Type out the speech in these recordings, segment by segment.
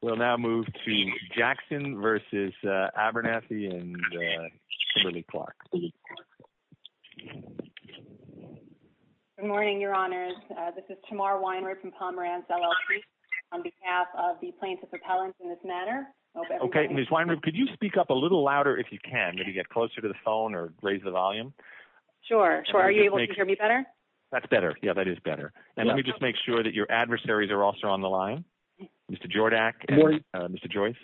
We'll now move to Jackson v. Abernathy and Kimberly Clark. Good morning, Your Honors. This is Tamar Weinroth from Pomeranz, LLC, on behalf of the Plaintiff Appellants in this matter. Okay, Ms. Weinroth, could you speak up a little louder if you can, maybe get closer to the phone or raise the volume? Sure. Are you able to hear me better? That's better. Yeah, that is better. And let me just make sure that your adversaries are also on the line. Mr. Jordak and Mr. Joyce.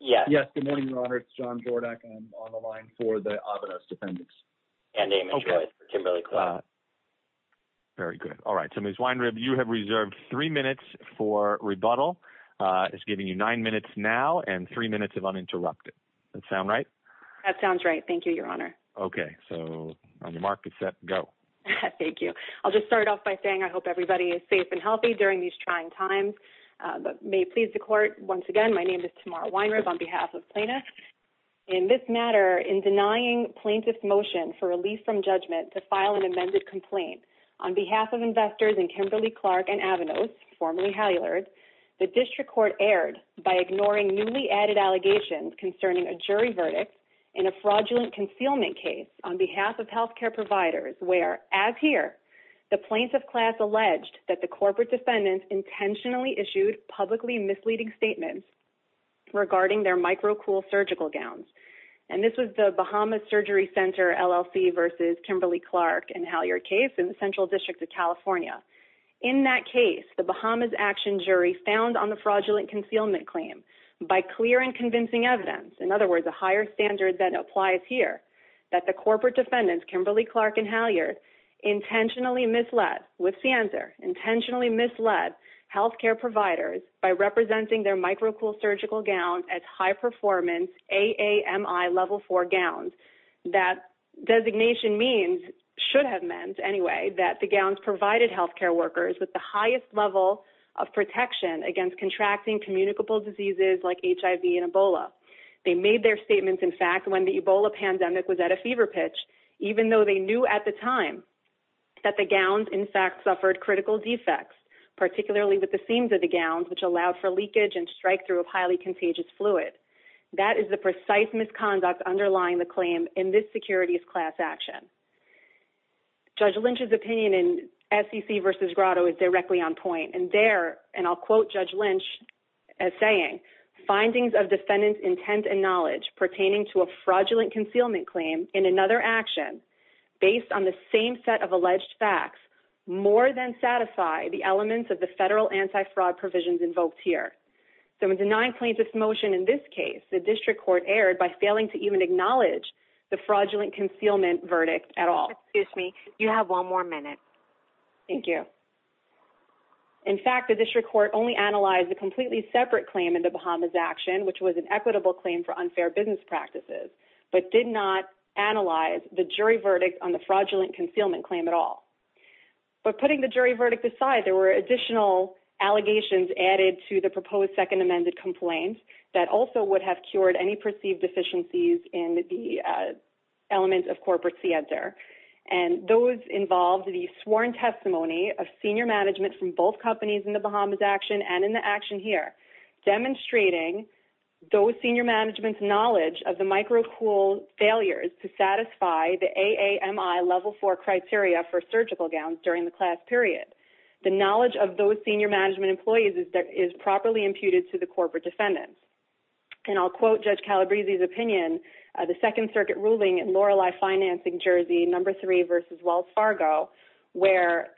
Yes, good morning, Your Honor. It's John Jordak. I'm on the line for the Avanos defendants. And Amy Joyce for Kimberly Clark. Very good. All right. So, Ms. Weinroth, you have reserved three minutes for rebuttal. It's giving you nine minutes now and three minutes of uninterrupted. That sound right? That sounds right. Thank you, Your Honor. Okay. So, on your mark, get set, go. Thank you. I'll just start off by saying I hope everybody is safe and healthy during these trying times. May it please the Court, once again, my name is Tamar Weinroth on behalf of Plaintiffs. In this matter, in denying plaintiffs' motion for release from judgment to file an amended complaint on behalf of investors in Kimberly Clark and Avanos, formerly Hallilard, the District Court erred by ignoring newly added allegations concerning a jury verdict in a fraudulent concealment case on behalf of healthcare providers where, as here, the plaintiff class alleged that the corporate defendants intentionally issued publicly misleading statements regarding their microcool surgical gowns. And this was the Bahamas Surgery Center LLC versus Kimberly Clark and Hallilard case in the Central District of California. In that case, the Bahamas Action Jury found on the fraudulent concealment claim, by clear and convincing evidence, in other words, a higher standard than applies here, that the corporate defendants, Kimberly Clark and Hallilard, intentionally misled, what's the answer? Intentionally misled healthcare providers by representing their microcool surgical gown as high-performance AAMI Level 4 gowns. That designation means, should have meant, anyway, that the gowns provided healthcare workers with the highest level of protection against contracting communicable diseases like HIV and Ebola. They made their statements, in fact, when the Ebola pandemic was at a fever pitch, even though they knew at the time that the gowns, in fact, suffered critical defects, particularly with the seams of the gowns, which allowed for leakage and strikethrough of highly contagious fluid. That is the precise misconduct underlying the claim in this securities class action. Judge Lynch's opinion in SEC versus Grotto is directly on point. And there, and I'll quote Judge Lynch as saying, findings of defendant's intent and knowledge pertaining to a fraudulent concealment claim in another action, based on the same set of alleged facts, more than satisfy the elements of the federal anti-fraud provisions invoked here. So in denying plaintiff's motion in this case, the district court erred by failing to even acknowledge the fraudulent concealment verdict at all. Excuse me. You have one more minute. Thank you. In fact, the district court only analyzed a completely separate claim in the Bahamas action, which was an equitable claim for unfair business practices, but did not analyze the jury verdict on the fraudulent concealment claim at all. But putting the jury verdict aside, there were additional allegations added to the proposed second amended complaint that also would have cured any perceived deficiencies in the element of corporate theater. And those involved the sworn testimony of senior management from both companies in the Bahamas action and in the action here, demonstrating those senior management's knowledge of the microcool failures to satisfy the AAMI level four criteria for surgical gowns during the class period. The knowledge of those senior management employees is properly imputed to the corporate defendants. And I'll quote Judge Calabrese's opinion, the second circuit ruling in Lorelei Financing, Jersey, number three versus Wells Fargo, where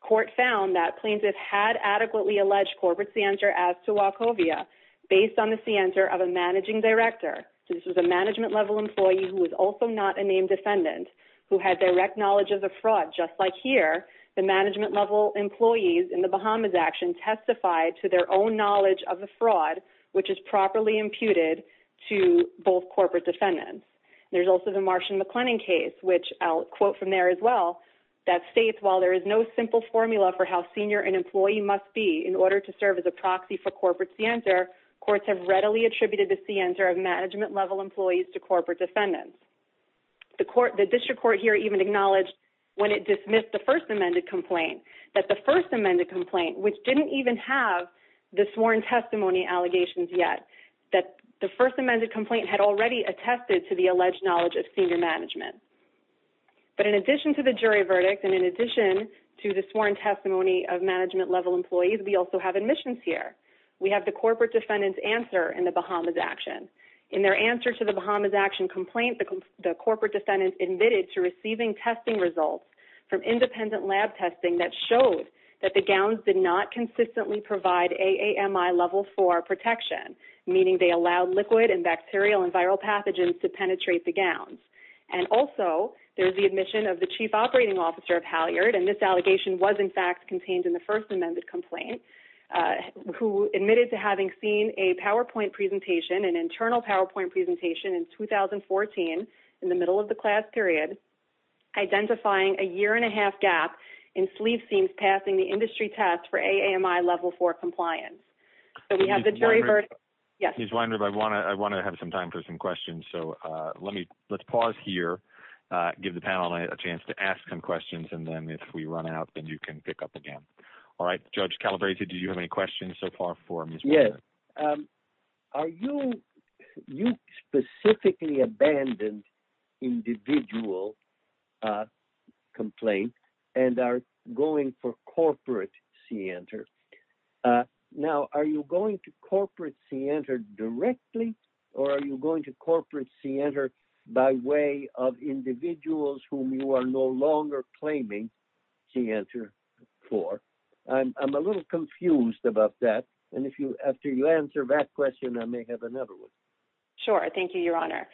court found that plaintiffs had adequately alleged corporate center as to Wachovia based on the center of a managing director. So this was a management level employee who was also not a named defendant who had direct knowledge of the fraud. Just like here, the management level employees in the Bahamas action testified to their own knowledge of the fraud, which is properly imputed to both corporate defendants. There's also the Martian-McClennan case, which I'll quote from there as well, that states, while there is no simple formula for how senior an employee must be in order to serve as a proxy for corporate center, courts have readily attributed the center of management level employees to corporate defendants. The district court here even acknowledged when it dismissed the first amended complaint, that the first amended complaint, which didn't even have the sworn testimony allegations yet, that the first amended complaint had already attested to the alleged knowledge of senior management. But in addition to the jury verdict and in addition to the sworn testimony of management level employees, we also have admissions here. We have the corporate defendant's answer in the Bahamas action. In their answer to the Bahamas action complaint, the corporate defendant admitted to receiving testing results from independent lab testing that showed that the gowns did not consistently provide AAMI level four protection, meaning they allowed liquid and bacterial and viral pathogens to penetrate the gowns. And also, there's the admission of the chief operating officer of Halyard, and this allegation was in fact contained in the first amended complaint, who admitted to having seen a PowerPoint presentation, an internal PowerPoint presentation in 2014, in the middle of the class period, identifying a year and a half gap in sleeve seams passing the industry test for AAMI level four compliance. So we have the jury verdict. Yes. Ms. Weinrub, I want to have some time for some questions. So let's pause here, give the panel a chance to ask some questions, and then if we run out, then you can pick up again. All right. Judge Calabresi, do you have any questions so far for Ms. Weinrub? Are you – you specifically abandoned individual complaint and are going for corporate CIANTR. Now, are you going to corporate CIANTR directly, or are you going to corporate CIANTR by way of individuals whom you are no longer claiming CIANTR for? I'm a little confused about that, and if you – after you answer that question, I may have another one. Sure. Thank you, Your Honor.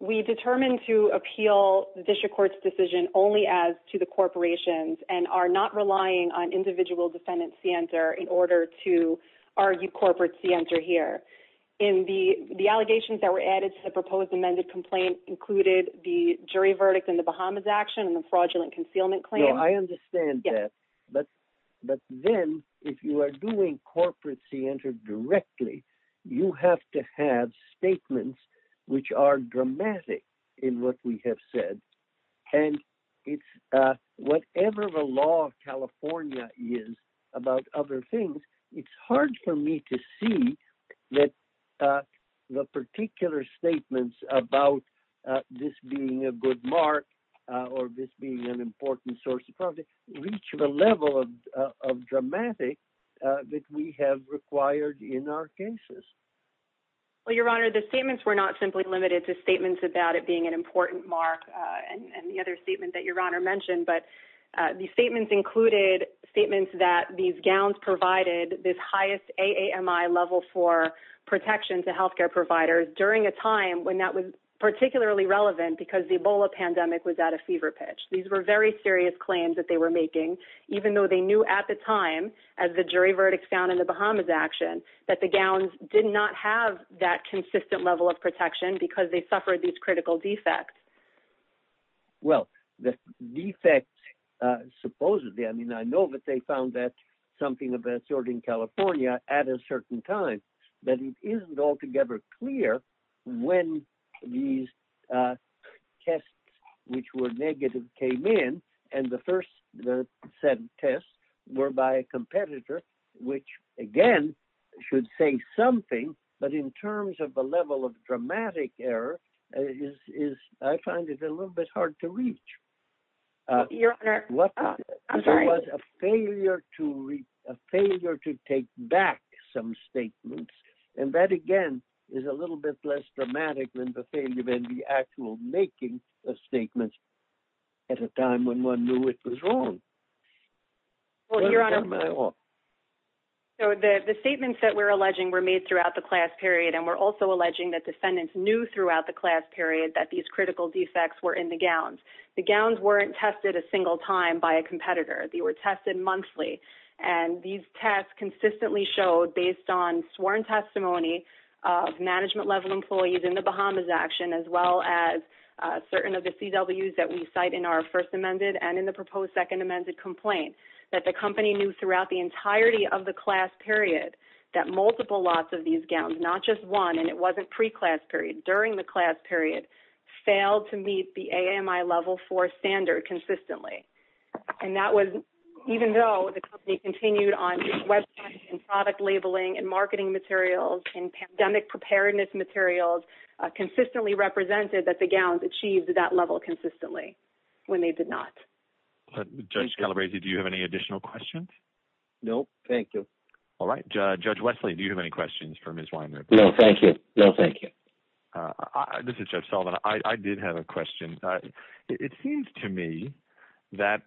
We determined to appeal the district court's decision only as to the corporations and are not relying on individual defendant CIANTR in order to argue corporate CIANTR here. In the – the allegations that were added to the proposed amended complaint included the jury verdict in the Bahamas action and the fraudulent concealment claim. So I understand that, but then if you are doing corporate CIANTR directly, you have to have statements which are dramatic in what we have said. And it's – whatever the law of California is about other things, it's hard for me to see that the particular statements about this being a good mark or this being an important source of profit reach the level of dramatic that we have required in our cases. Well, Your Honor, the statements were not simply limited to statements about it being an important mark and the other statement that Your Honor mentioned, but the statements included statements that these gowns provided this highest AAMI level for protection to healthcare providers during a time when that was particularly relevant because the Ebola pandemic was at a fever pitch. These were very serious claims that they were making, even though they knew at the time, as the jury verdict found in the Bahamas action, that the gowns did not have that consistent level of protection because they suffered these critical defects. Well, the defects supposedly – I mean, I know that they found that something of that sort in California at a certain time, but it isn't altogether clear when these tests, which were negative, came in. And the first set of tests were by a competitor, which again should say something, but in terms of the level of dramatic error, I find it a little bit hard to reach. Your Honor, I'm sorry. It was a failure to take back some statements, and that again is a little bit less dramatic than the failure in the actual making of statements at a time when one knew it was wrong. Well, Your Honor, the statements that we're alleging were made throughout the class period, and we're also alleging that defendants knew throughout the class period that these critical defects were in the gowns. The gowns weren't tested a single time by a competitor. They were tested monthly, and these tests consistently showed, based on sworn testimony of management-level employees in the Bahamas action, as well as certain of the CWs that we cite in our first amended and in the proposed second amended complaint, that the company knew throughout the entirety of the class period that multiple lots of these gowns, not just one, and it wasn't pre-class period, during the class period, failed to meet the AMI level four standard consistently. And that was even though the company continued on with website and product labeling and marketing materials and pandemic preparedness materials consistently represented that the gowns achieved that level consistently when they did not. Judge Calabresi, do you have any additional questions? No, thank you. All right. Judge Wesley, do you have any questions for Ms. Weinriber? No, thank you. No, thank you. This is Judge Sullivan. I did have a question. It seems to me that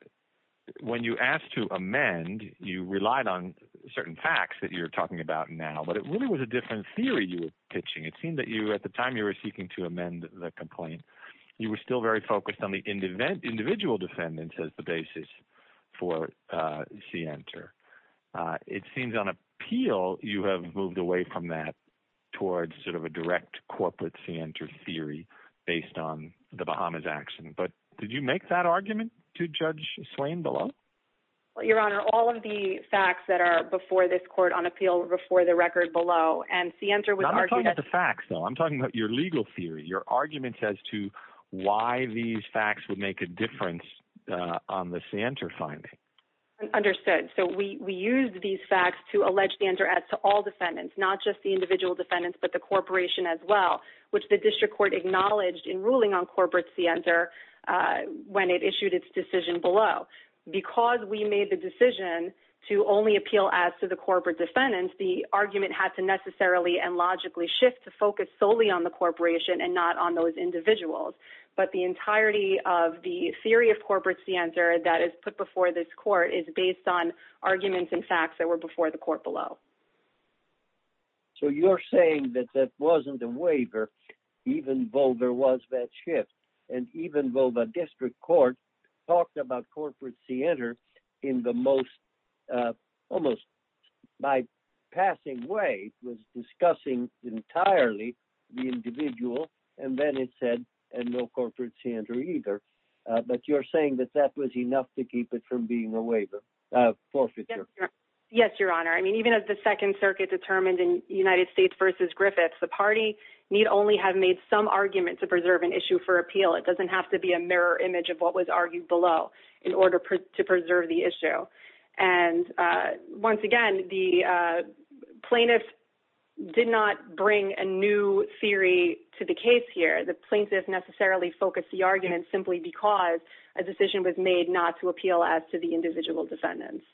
when you asked to amend, you relied on certain facts that you're talking about now, but it really was a different theory you were pitching. It seemed that you, at the time you were seeking to amend the complaint, you were still very focused on the individual defendants as the basis for Sienter. It seems on appeal, you have moved away from that towards sort of a direct corporate Sienter theory based on the Bahamas action. But did you make that argument to Judge Swain below? Your Honor, all of the facts that are before this court on appeal were before the record below. I'm not talking about the facts, though. I'm talking about your legal theory, your arguments as to why these facts would make a difference on the Sienter finding. Understood. So we used these facts to allege Sienter ads to all defendants, not just the individual defendants but the corporation as well, which the district court acknowledged in ruling on corporate Sienter when it issued its decision below. Because we made the decision to only appeal ads to the corporate defendants, the argument had to necessarily and logically shift to focus solely on the corporation and not on those individuals. But the entirety of the theory of corporate Sienter that is put before this court is based on arguments and facts that were before the court below. So you're saying that that wasn't a waiver even though there was that shift and even though the district court talked about corporate Sienter in the most almost by passing way was discussing entirely the individual. And then it said, and no corporate Sienter either. But you're saying that that was enough to keep it from being a waiver forfeiture. Yes, Your Honor. I mean, even as the Second Circuit determined in United States versus Griffiths, the party need only have made some argument to preserve an issue for appeal. It doesn't have to be a mirror image of what was argued below in order to preserve the issue. And once again, the plaintiff did not bring a new theory to the case here. The plaintiff necessarily focused the argument simply because a decision was made not to appeal as to the individual defendants.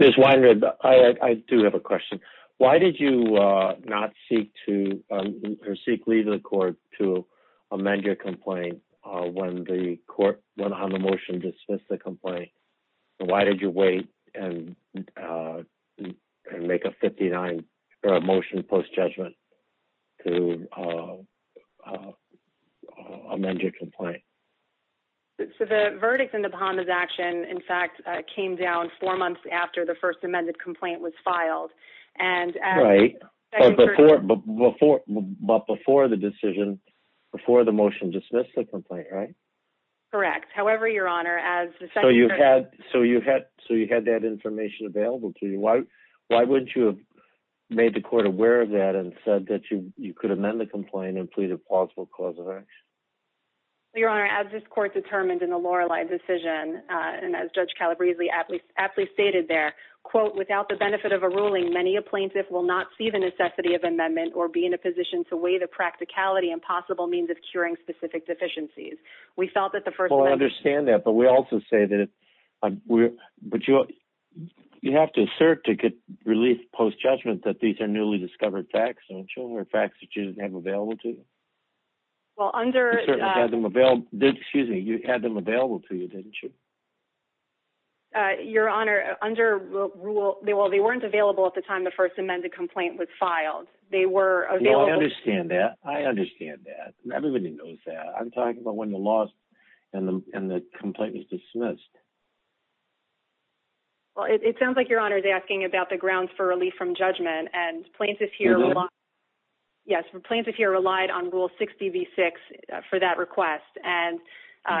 Ms. Weinrath, I do have a question. Why did you not seek to seek leave of the court to amend your complaint when the court went on the motion to dismiss the complaint? Why did you wait and make a 59 motion post judgment to amend your complaint? So the verdict in the bond is action, in fact, came down four months after the first amended complaint was filed. And before but before but before the decision, before the motion dismissed the complaint. Right. Correct. However, Your Honor, as you had. So you had so you had that information available to you. Why why would you have made the court aware of that and said that you could amend the complaint and plead a possible cause of action? Your Honor, as this court determined in a Lorelei decision and as Judge Calabrese aptly stated there, quote, without the benefit of a ruling, many a plaintiff will not see the necessity of amendment or be in a position to weigh the practicality and possible means of curing specific deficiencies. We felt that the first understand that. But we also say that we're but you you have to assert to get relief post judgment that these are newly discovered facts. So children are facts that you have available to. Well, under the mobile, excuse me, you had them available to you, didn't you? Your Honor, under rule, they were they weren't available at the time the first amended complaint was filed. They were available. I understand that. I understand that. Everybody knows that. I'm talking about when the laws and the complaint was dismissed. Well, it sounds like your honor is asking about the grounds for relief from judgment and plaintiff here. Yes. Plaintiff here relied on rule 60 v six for that request. And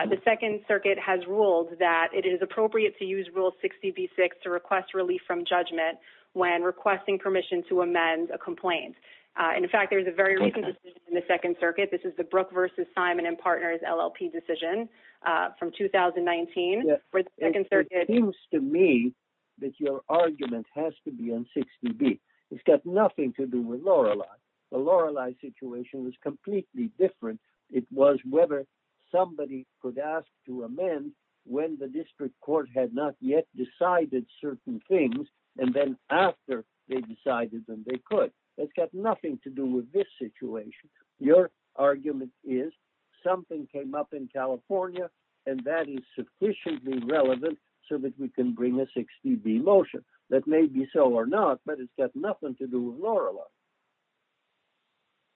the Second Circuit has ruled that it is appropriate to use rule 60 v six to request relief from judgment when requesting permission to amend a complaint. And in fact, there is a very recent decision in the Second Circuit. This is the Brooke versus Simon and Partners LLP decision from 2019. It seems to me that your argument has to be on 60 v. It's got nothing to do with Lorelei. The Lorelei situation is completely different. It was whether somebody could ask to amend when the district court had not yet decided certain things. And then after they decided that they could. It's got nothing to do with this situation. Your argument is something came up in California and that is sufficiently relevant so that we can bring a 60 v motion. That may be so or not, but it's got nothing to do with Lorelei.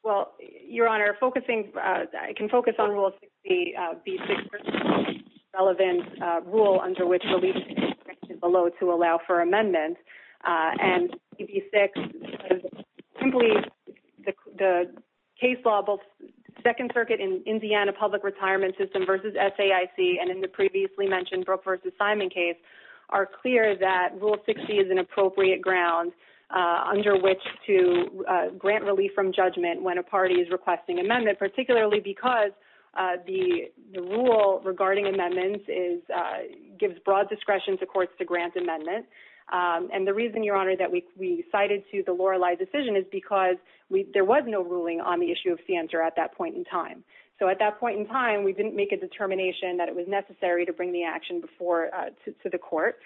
Well, your honor, focusing. I can focus on rule 60 v six. Relevant rule under which below to allow for amendments. And maybe six simply the case law, both Second Circuit in Indiana, public retirement system versus S.A.I.C. And in the previously mentioned Brooke versus Simon case are clear that rule 60 is an appropriate ground under which to grant relief from judgment when a party is requesting amendment. Particularly because the rule regarding amendments is gives broad discretion to courts to grant amendment. And the reason, your honor, that we cited to the Lorelei decision is because there was no ruling on the issue of the answer at that point in time. So at that point in time, we didn't make a determination that it was necessary to bring the action before to the court.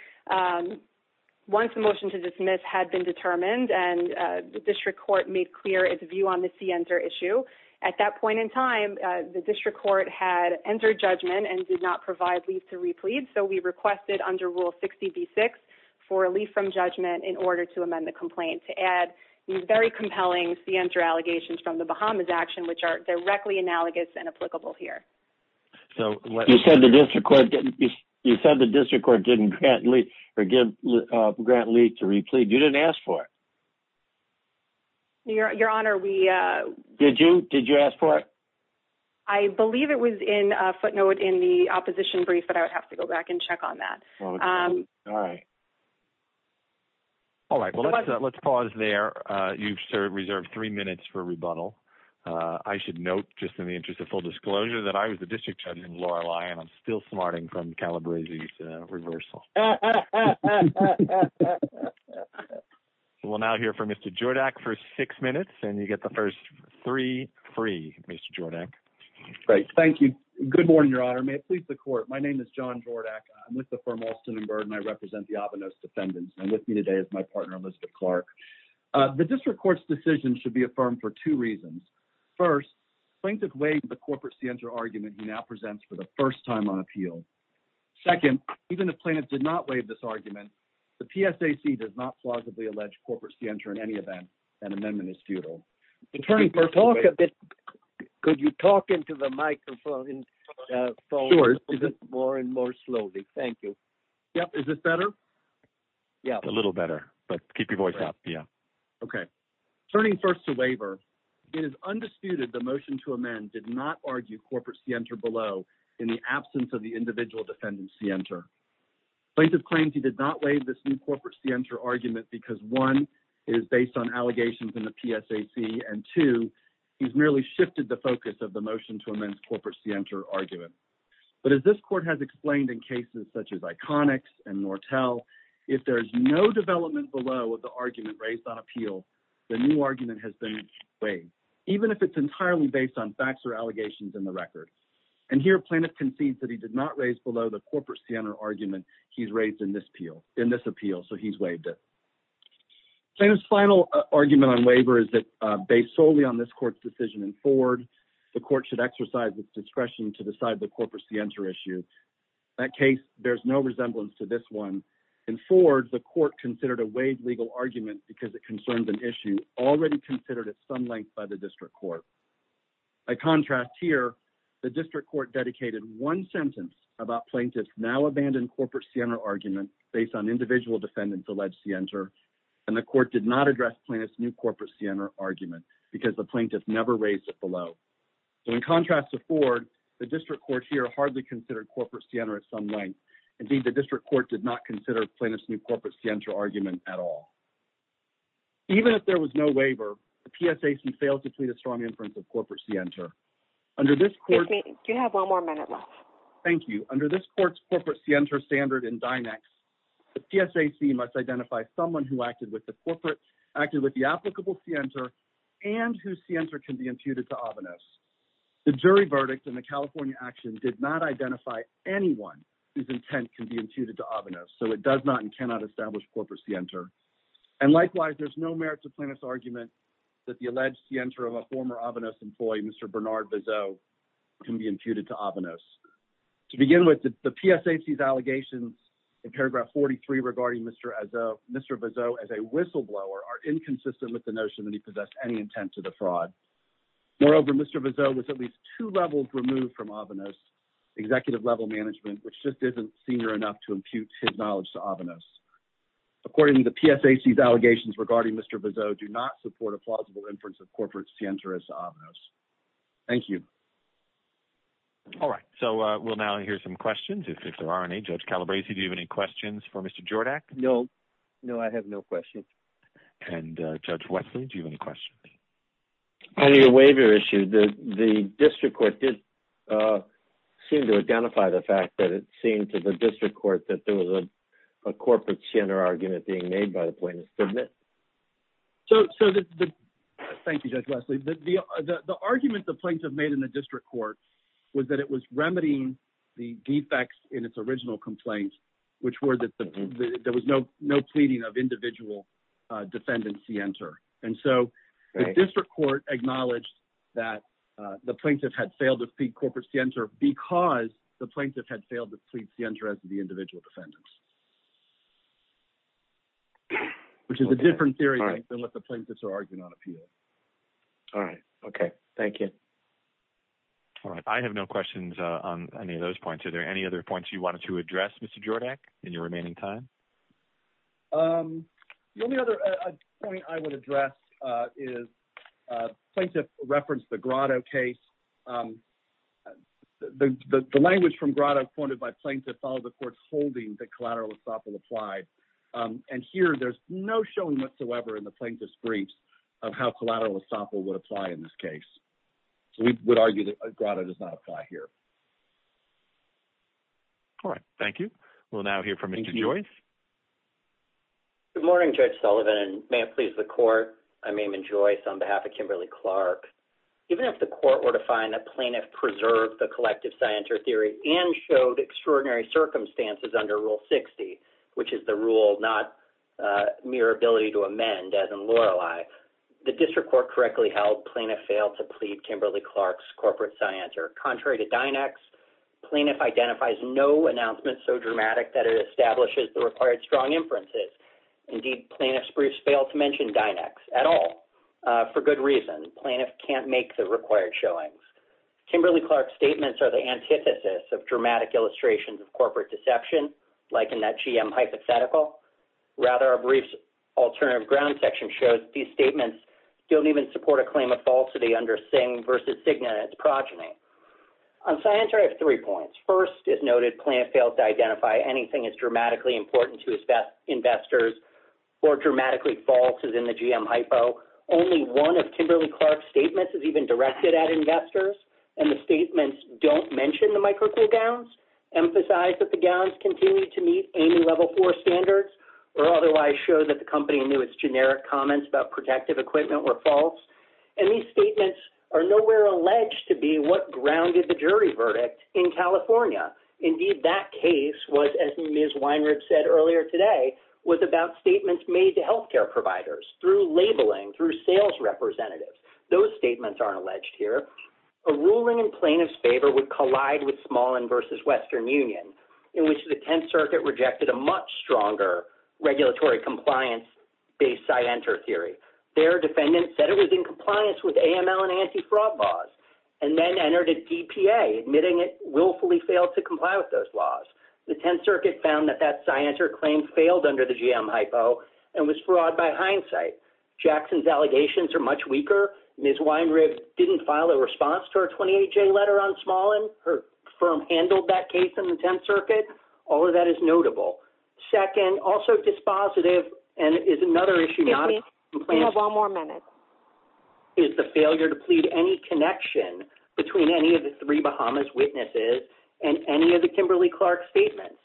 Once the motion to dismiss had been determined and the district court made clear its view on the answer issue. At that point in time, the district court had entered judgment and did not provide leave to replete. So we requested under rule 60 v six for relief from judgment in order to amend the complaint to add very compelling the answer allegations from the Bahamas action, which are directly analogous and applicable here. You said the district court didn't grant leave to replete. You didn't ask for it. Your honor, we. Did you? Did you ask for it? I believe it was in footnote in the opposition brief, but I would have to go back and check on that. All right. All right. Let's pause there. You've served reserved three minutes for rebuttal. I should note just in the interest of full disclosure that I was the district attorney in Lorelei and I'm still smarting from Calabrese reversal. We'll now hear from Mr. Jordac for six minutes and you get the first three free. Mr. Jordac. Great. Thank you. Good morning, Your Honor. May it please the court. My name is John Jordac. I'm with the firm Austin and Bird and I represent the Avanos defendants. And with me today is my partner, Elizabeth Clark. The district court's decision should be affirmed for two reasons. First, plaintiff waived the corporate scienter argument he now presents for the first time on appeal. Second, even if plaintiff did not waive this argument, the PSAC does not plausibly allege corporate scienter in any event. An amendment is futile. Attorney, could you talk into the microphone more and more slowly? Thank you. Is this better? Yeah. A little better. But keep your voice up. Yeah. Okay. Turning first to waiver, it is undisputed the motion to amend did not argue corporate scienter below in the absence of the individual defendant scienter. Plaintiff claims he did not waive this new corporate scienter argument because, one, it is based on allegations in the PSAC, and, two, he's merely shifted the focus of the motion to amend corporate scienter argument. But as this court has explained in cases such as Iconics and Nortel, if there's no development below the argument raised on appeal, the new argument has been waived, even if it's entirely based on facts or allegations in the record. And here plaintiff concedes that he did not raise below the corporate scienter argument he's raised in this appeal, so he's waived it. Plaintiff's final argument on waiver is that, based solely on this court's decision in Ford, the court should exercise its discretion to decide the corporate scienter issue. In that case, there's no resemblance to this one. In Ford, the court considered a waived legal argument because it concerns an issue already considered at some length by the district court. By contrast here, the district court dedicated one sentence about plaintiff's now-abandoned corporate scienter argument based on individual defendants' alleged scienter, and the court did not address plaintiff's new corporate scienter argument because the plaintiff never raised it below. So in contrast to Ford, the district court here hardly considered corporate scienter at some length. Indeed, the district court did not consider plaintiff's new corporate scienter argument at all. Even if there was no waiver, the PSAC failed to plead a strong inference of corporate scienter. Under this court's corporate scienter standard in Dynex, the PSAC must identify someone who acted with the applicable scienter and whose scienter can be imputed to OVENOS. The jury verdict in the California action did not identify anyone whose intent can be imputed to OVENOS, so it does not and cannot establish corporate scienter. And likewise, there's no merit to plaintiff's argument that the alleged scienter of a former OVENOS employee, Mr. Bernard Bizeau, can be imputed to OVENOS. To begin with, the PSAC's allegations in paragraph 43 regarding Mr. Bizeau as a whistleblower are inconsistent with the notion that he possessed any intent to defraud. Moreover, Mr. Bizeau was at least two levels removed from OVENOS executive level management, which just isn't senior enough to impute his knowledge to OVENOS. Accordingly, the PSAC's allegations regarding Mr. Bizeau do not support a plausible inference of corporate scienter as to OVENOS. Thank you. All right, so we'll now hear some questions. If there aren't any, Judge Calabresi, do you have any questions for Mr. Jordak? No. No, I have no questions. And Judge Wesley, do you have any questions? On your waiver issue, the district court did seem to identify the fact that it seemed to the district court that there was a corporate scienter argument being made by the plaintiff, didn't it? So, thank you, Judge Wesley. The argument the plaintiff made in the district court was that it was remedying the defects in its original complaint, which were that there was no pleading of individual defendant scienter. And so the district court acknowledged that the plaintiff had failed to plead corporate scienter because the plaintiff had failed to plead scienter as to the individual defendant. Which is a different theory than what the plaintiffs are arguing on appeal. All right. Okay. Thank you. All right. I have no questions on any of those points. Are there any other points you wanted to address, Mr. Jordak, in your remaining time? The only other point I would address is plaintiff referenced the Grotto case. The language from Grotto pointed by plaintiff followed the court's holding that collateral estoppel applied. And here there's no showing whatsoever in the plaintiff's briefs of how collateral estoppel would apply in this case. So we would argue that Grotto does not apply here. All right. Thank you. We'll now hear from Maimon Joyce. Good morning, Judge Sullivan, and may it please the court. I'm Maimon Joyce on behalf of Kimberly Clark. Even if the court were to find that plaintiff preserved the collective scienter theory and showed extraordinary circumstances under Rule 60, which is the rule not mere ability to amend as in Lorelei, the district court correctly held plaintiff failed to plead Kimberly Clark's corporate scienter. Contrary to DINEX, plaintiff identifies no announcement so dramatic that it establishes the required strong inferences. Indeed, plaintiff's briefs fail to mention DINEX at all. For good reason. Plaintiff can't make the required showings. Kimberly Clark's statements are the antithesis of dramatic illustrations of corporate deception, like in that GM hypothetical. Rather, our briefs alternative ground section shows these statements don't even support a claim of falsity under Singh v. Cigna and its progeny. On scienter, I have three points. First, as noted, plaintiff failed to identify anything as dramatically important to investors or dramatically false as in the GM hypo. Only one of Kimberly Clark's statements is even directed at investors, and the statements don't mention the microcool gowns, emphasize that the gowns continue to meet any level four standards, or otherwise show that the company knew its generic comments about protective equipment were false. And these statements are nowhere alleged to be what grounded the jury verdict in California. Indeed, that case was, as Ms. Weinrig said earlier today, was about statements made to healthcare providers through labeling, through sales representatives. Those statements aren't alleged here. A ruling in plaintiff's favor would collide with Smallin v. Western Union, in which the Tenth Circuit rejected a much stronger regulatory compliance-based side-enter theory. Their defendant said it was in compliance with AML and anti-fraud laws, and then entered a DPA, admitting it willfully failed to comply with those laws. The Tenth Circuit found that that side-enter claim failed under the GM hypo and was fraud by hindsight. Jackson's allegations are much weaker. Ms. Weinrig didn't file a response to her 28-J letter on Smallin. Her firm handled that case in the Tenth Circuit. All of that is notable. Second, also dispositive, and is another issue not in compliance- Excuse me. You have one more minute. Is the failure to plead any connection between any of the three Bahamas witnesses and any of the Kimberly-Clark statements.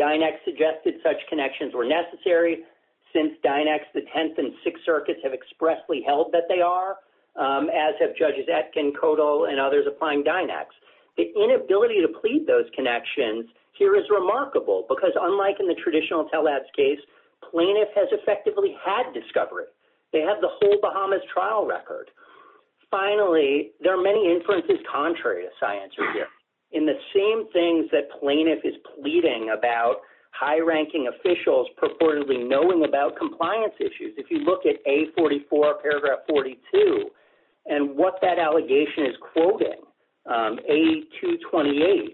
Dynex suggested such connections were necessary, since Dynex, the Tenth, and Sixth Circuits have expressly held that they are, as have Judges Etkin, Kodal, and others applying Dynex. The inability to plead those connections here is remarkable, because unlike in the traditional telehealth case, plaintiff has effectively had discovery. They have the whole Bahamas trial record. Finally, there are many inferences contrary to science here, in the same things that plaintiff is pleading about high-ranking officials purportedly knowing about compliance issues. If you look at A44, paragraph 42, and what that allegation is quoting, A228,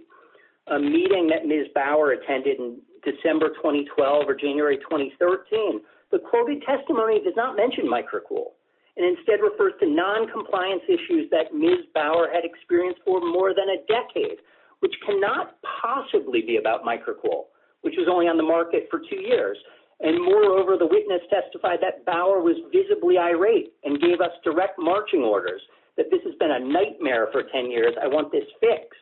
a meeting that Ms. Bauer attended in December 2012 or January 2013, the quoted testimony does not mention microcool. It instead refers to noncompliance issues that Ms. Bauer had experienced for more than a decade, which cannot possibly be about microcool, which was only on the market for two years. And moreover, the witness testified that Bauer was visibly irate and gave us direct marching orders, that this has been a nightmare for 10 years. I want this fixed.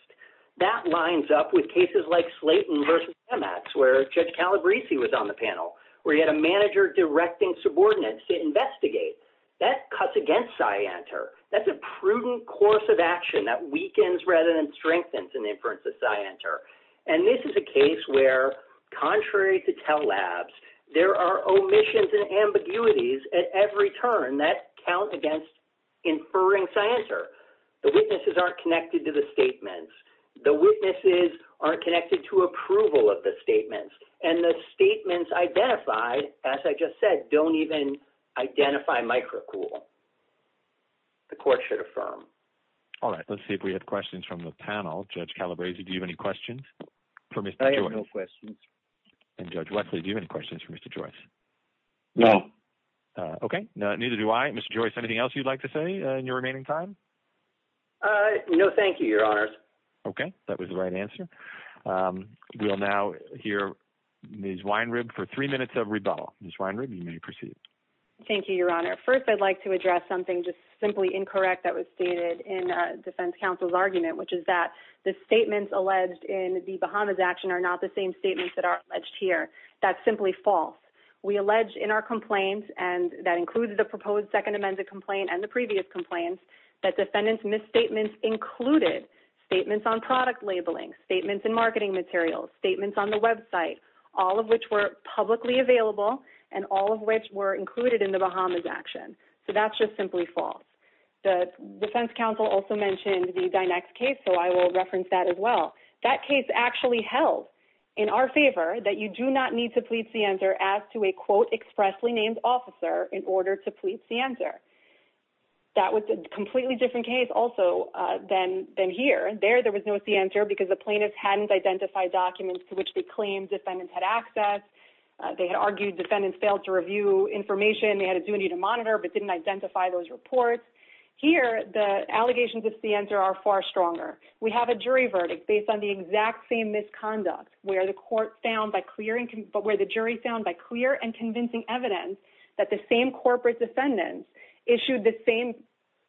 That lines up with cases like Slayton v. Chemex, where Judge Calabrese was on the panel, where he had a manager directing subordinates to investigate. That cuts against SCI-ANTER. That's a prudent course of action that weakens rather than strengthens an inference of SCI-ANTER. And this is a case where, contrary to Tell Labs, there are omissions and ambiguities at every turn that count against inferring SCI-ANTER. The witnesses aren't connected to the statements. The witnesses aren't connected to approval of the statements. And the statements identified, as I just said, don't even identify microcool. The court should affirm. All right, let's see if we have questions from the panel. Judge Calabrese, do you have any questions for Mr. Joyce? I have no questions. And Judge Wesley, do you have any questions for Mr. Joyce? No. Okay, neither do I. Mr. Joyce, anything else you'd like to say in your remaining time? No, thank you, Your Honors. Okay, that was the right answer. We will now hear Ms. Weinrib for three minutes of rebuttal. Ms. Weinrib, you may proceed. Thank you, Your Honor. First, I'd like to address something just simply incorrect that was stated in defense counsel's argument, which is that the statements alleged in the Bahamas action are not the same statements that are alleged here. That's simply false. We allege in our complaints, and that includes the proposed second amended complaint and the previous complaints, that defendants' misstatements included statements on product labeling, statements in marketing materials, statements on the website, all of which were publicly available, and all of which were included in the Bahamas action. So that's just simply false. The defense counsel also mentioned the Dynex case, so I will reference that as well. That case actually held in our favor that you do not need to plead scienter as to a, quote, expressly named officer in order to plead scienter. That was a completely different case also than here. There, there was no scienter because the plaintiffs hadn't identified documents to which they claimed defendants had access. They had argued defendants failed to review information. They had a duty to monitor but didn't identify those reports. Here, the allegations of scienter are far stronger. We have a jury verdict based on the exact same misconduct where the jury found by clear and convincing evidence that the same corporate defendants issued the same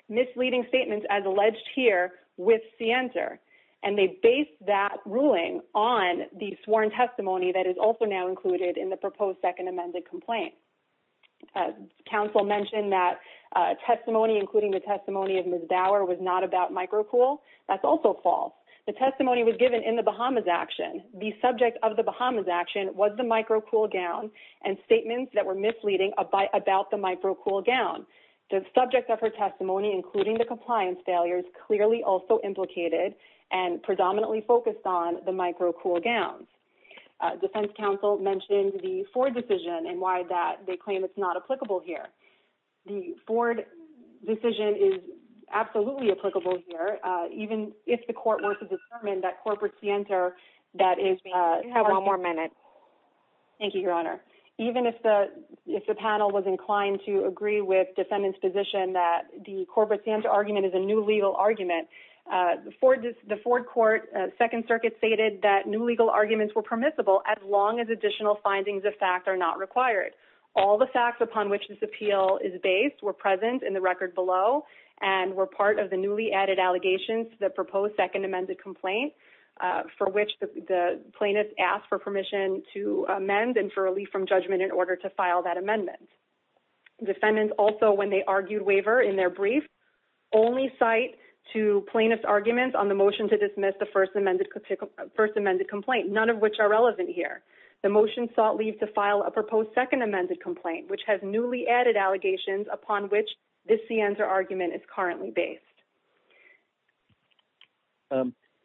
misleading statements as alleged here with scienter, and they based that ruling on the sworn testimony that is also now included in the proposed second amended complaint. Counsel mentioned that testimony, including the testimony of Ms. Dower, was not about microcool. That's also false. The testimony was given in the Bahamas action. The subject of the Bahamas action was the microcool gown and statements that were misleading about the microcool gown. The subject of her testimony, including the compliance failures, clearly also implicated and predominantly focused on the microcool gown. Defense counsel mentioned the Ford decision and why they claim it's not applicable here. The Ford decision is absolutely applicable here, even if the court were to determine that corporate scienter that is having one more minute. Thank you, Your Honor. Even if the panel was inclined to agree with defendant's position that the corporate scienter argument is a new legal argument, the Ford court second circuit stated that new legal arguments were permissible as long as additional findings of fact are not required. All the facts upon which this appeal is based were present in the record below and were part of the newly added allegations that proposed second amended complaint for which the plaintiff asked for permission to amend and for relief from judgment in order to file that amendment. Defendants also, when they argued waiver in their brief, only cite two plaintiff's arguments on the motion to dismiss the first amended complaint, none of which are relevant here. The motion sought leave to file a proposed second amended complaint, which has newly added allegations upon which the scienter argument is currently based.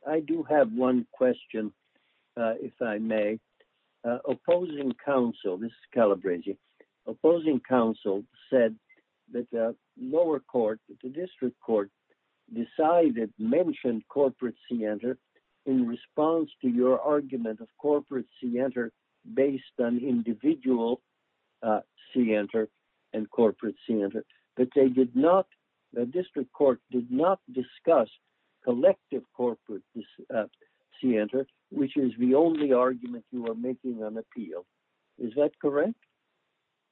I do have one question, if I may. Opposing counsel, this is Calabresi. Opposing counsel said that the lower court, the district court decided mentioned corporate scienter in response to your argument of corporate scienter based on individual scienter and corporate scienter. The district court did not discuss collective corporate scienter, which is the only argument you are making on appeal. Is that correct?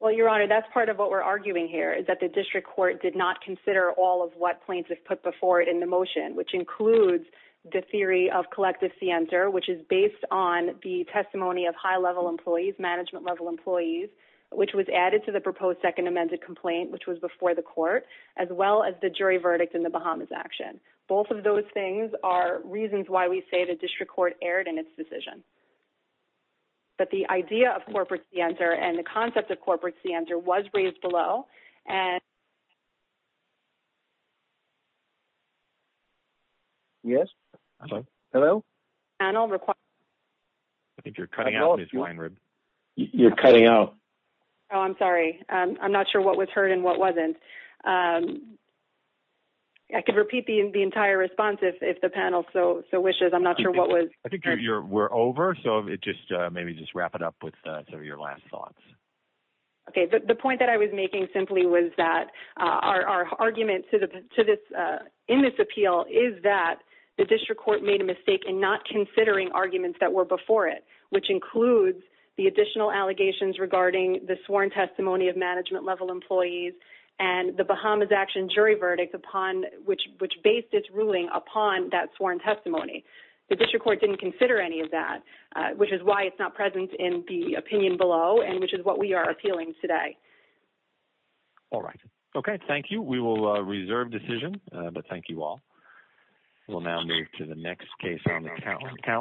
Well, your honor, that's part of what we're arguing here is that the district court did not consider all of what plaintiff put before it in the motion, which includes the theory of collective scienter, which is based on the testimony of high level employees, management level employees, which was added to the proposed second amended complaint, which was before the court, as well as the jury verdict in the Bahamas action. Both of those things are reasons why we say the district court erred in its decision. But the idea of corporate scienter and the concept of corporate scienter was raised below. Yes? Hello? I think you're cutting out, Ms. Weinrub. You're cutting out. Oh, I'm sorry. I'm not sure what was heard and what wasn't. I could repeat the entire response if the panel so wishes. I'm not sure what was heard. I think we're over, so maybe just wrap it up with some of your last thoughts. Okay. The point that I was making simply was that our argument in this appeal is that the district court made a mistake in not considering arguments that were before it, which includes the additional allegations regarding the sworn testimony of management level employees and the Bahamas action jury verdict, which based its ruling upon that sworn testimony. The district court didn't consider any of that, which is why it's not present in the opinion below and which is what we are appealing today. All right. Okay. Thank you. We will reserve decision, but thank you all. We'll now move to the next case on the calendar.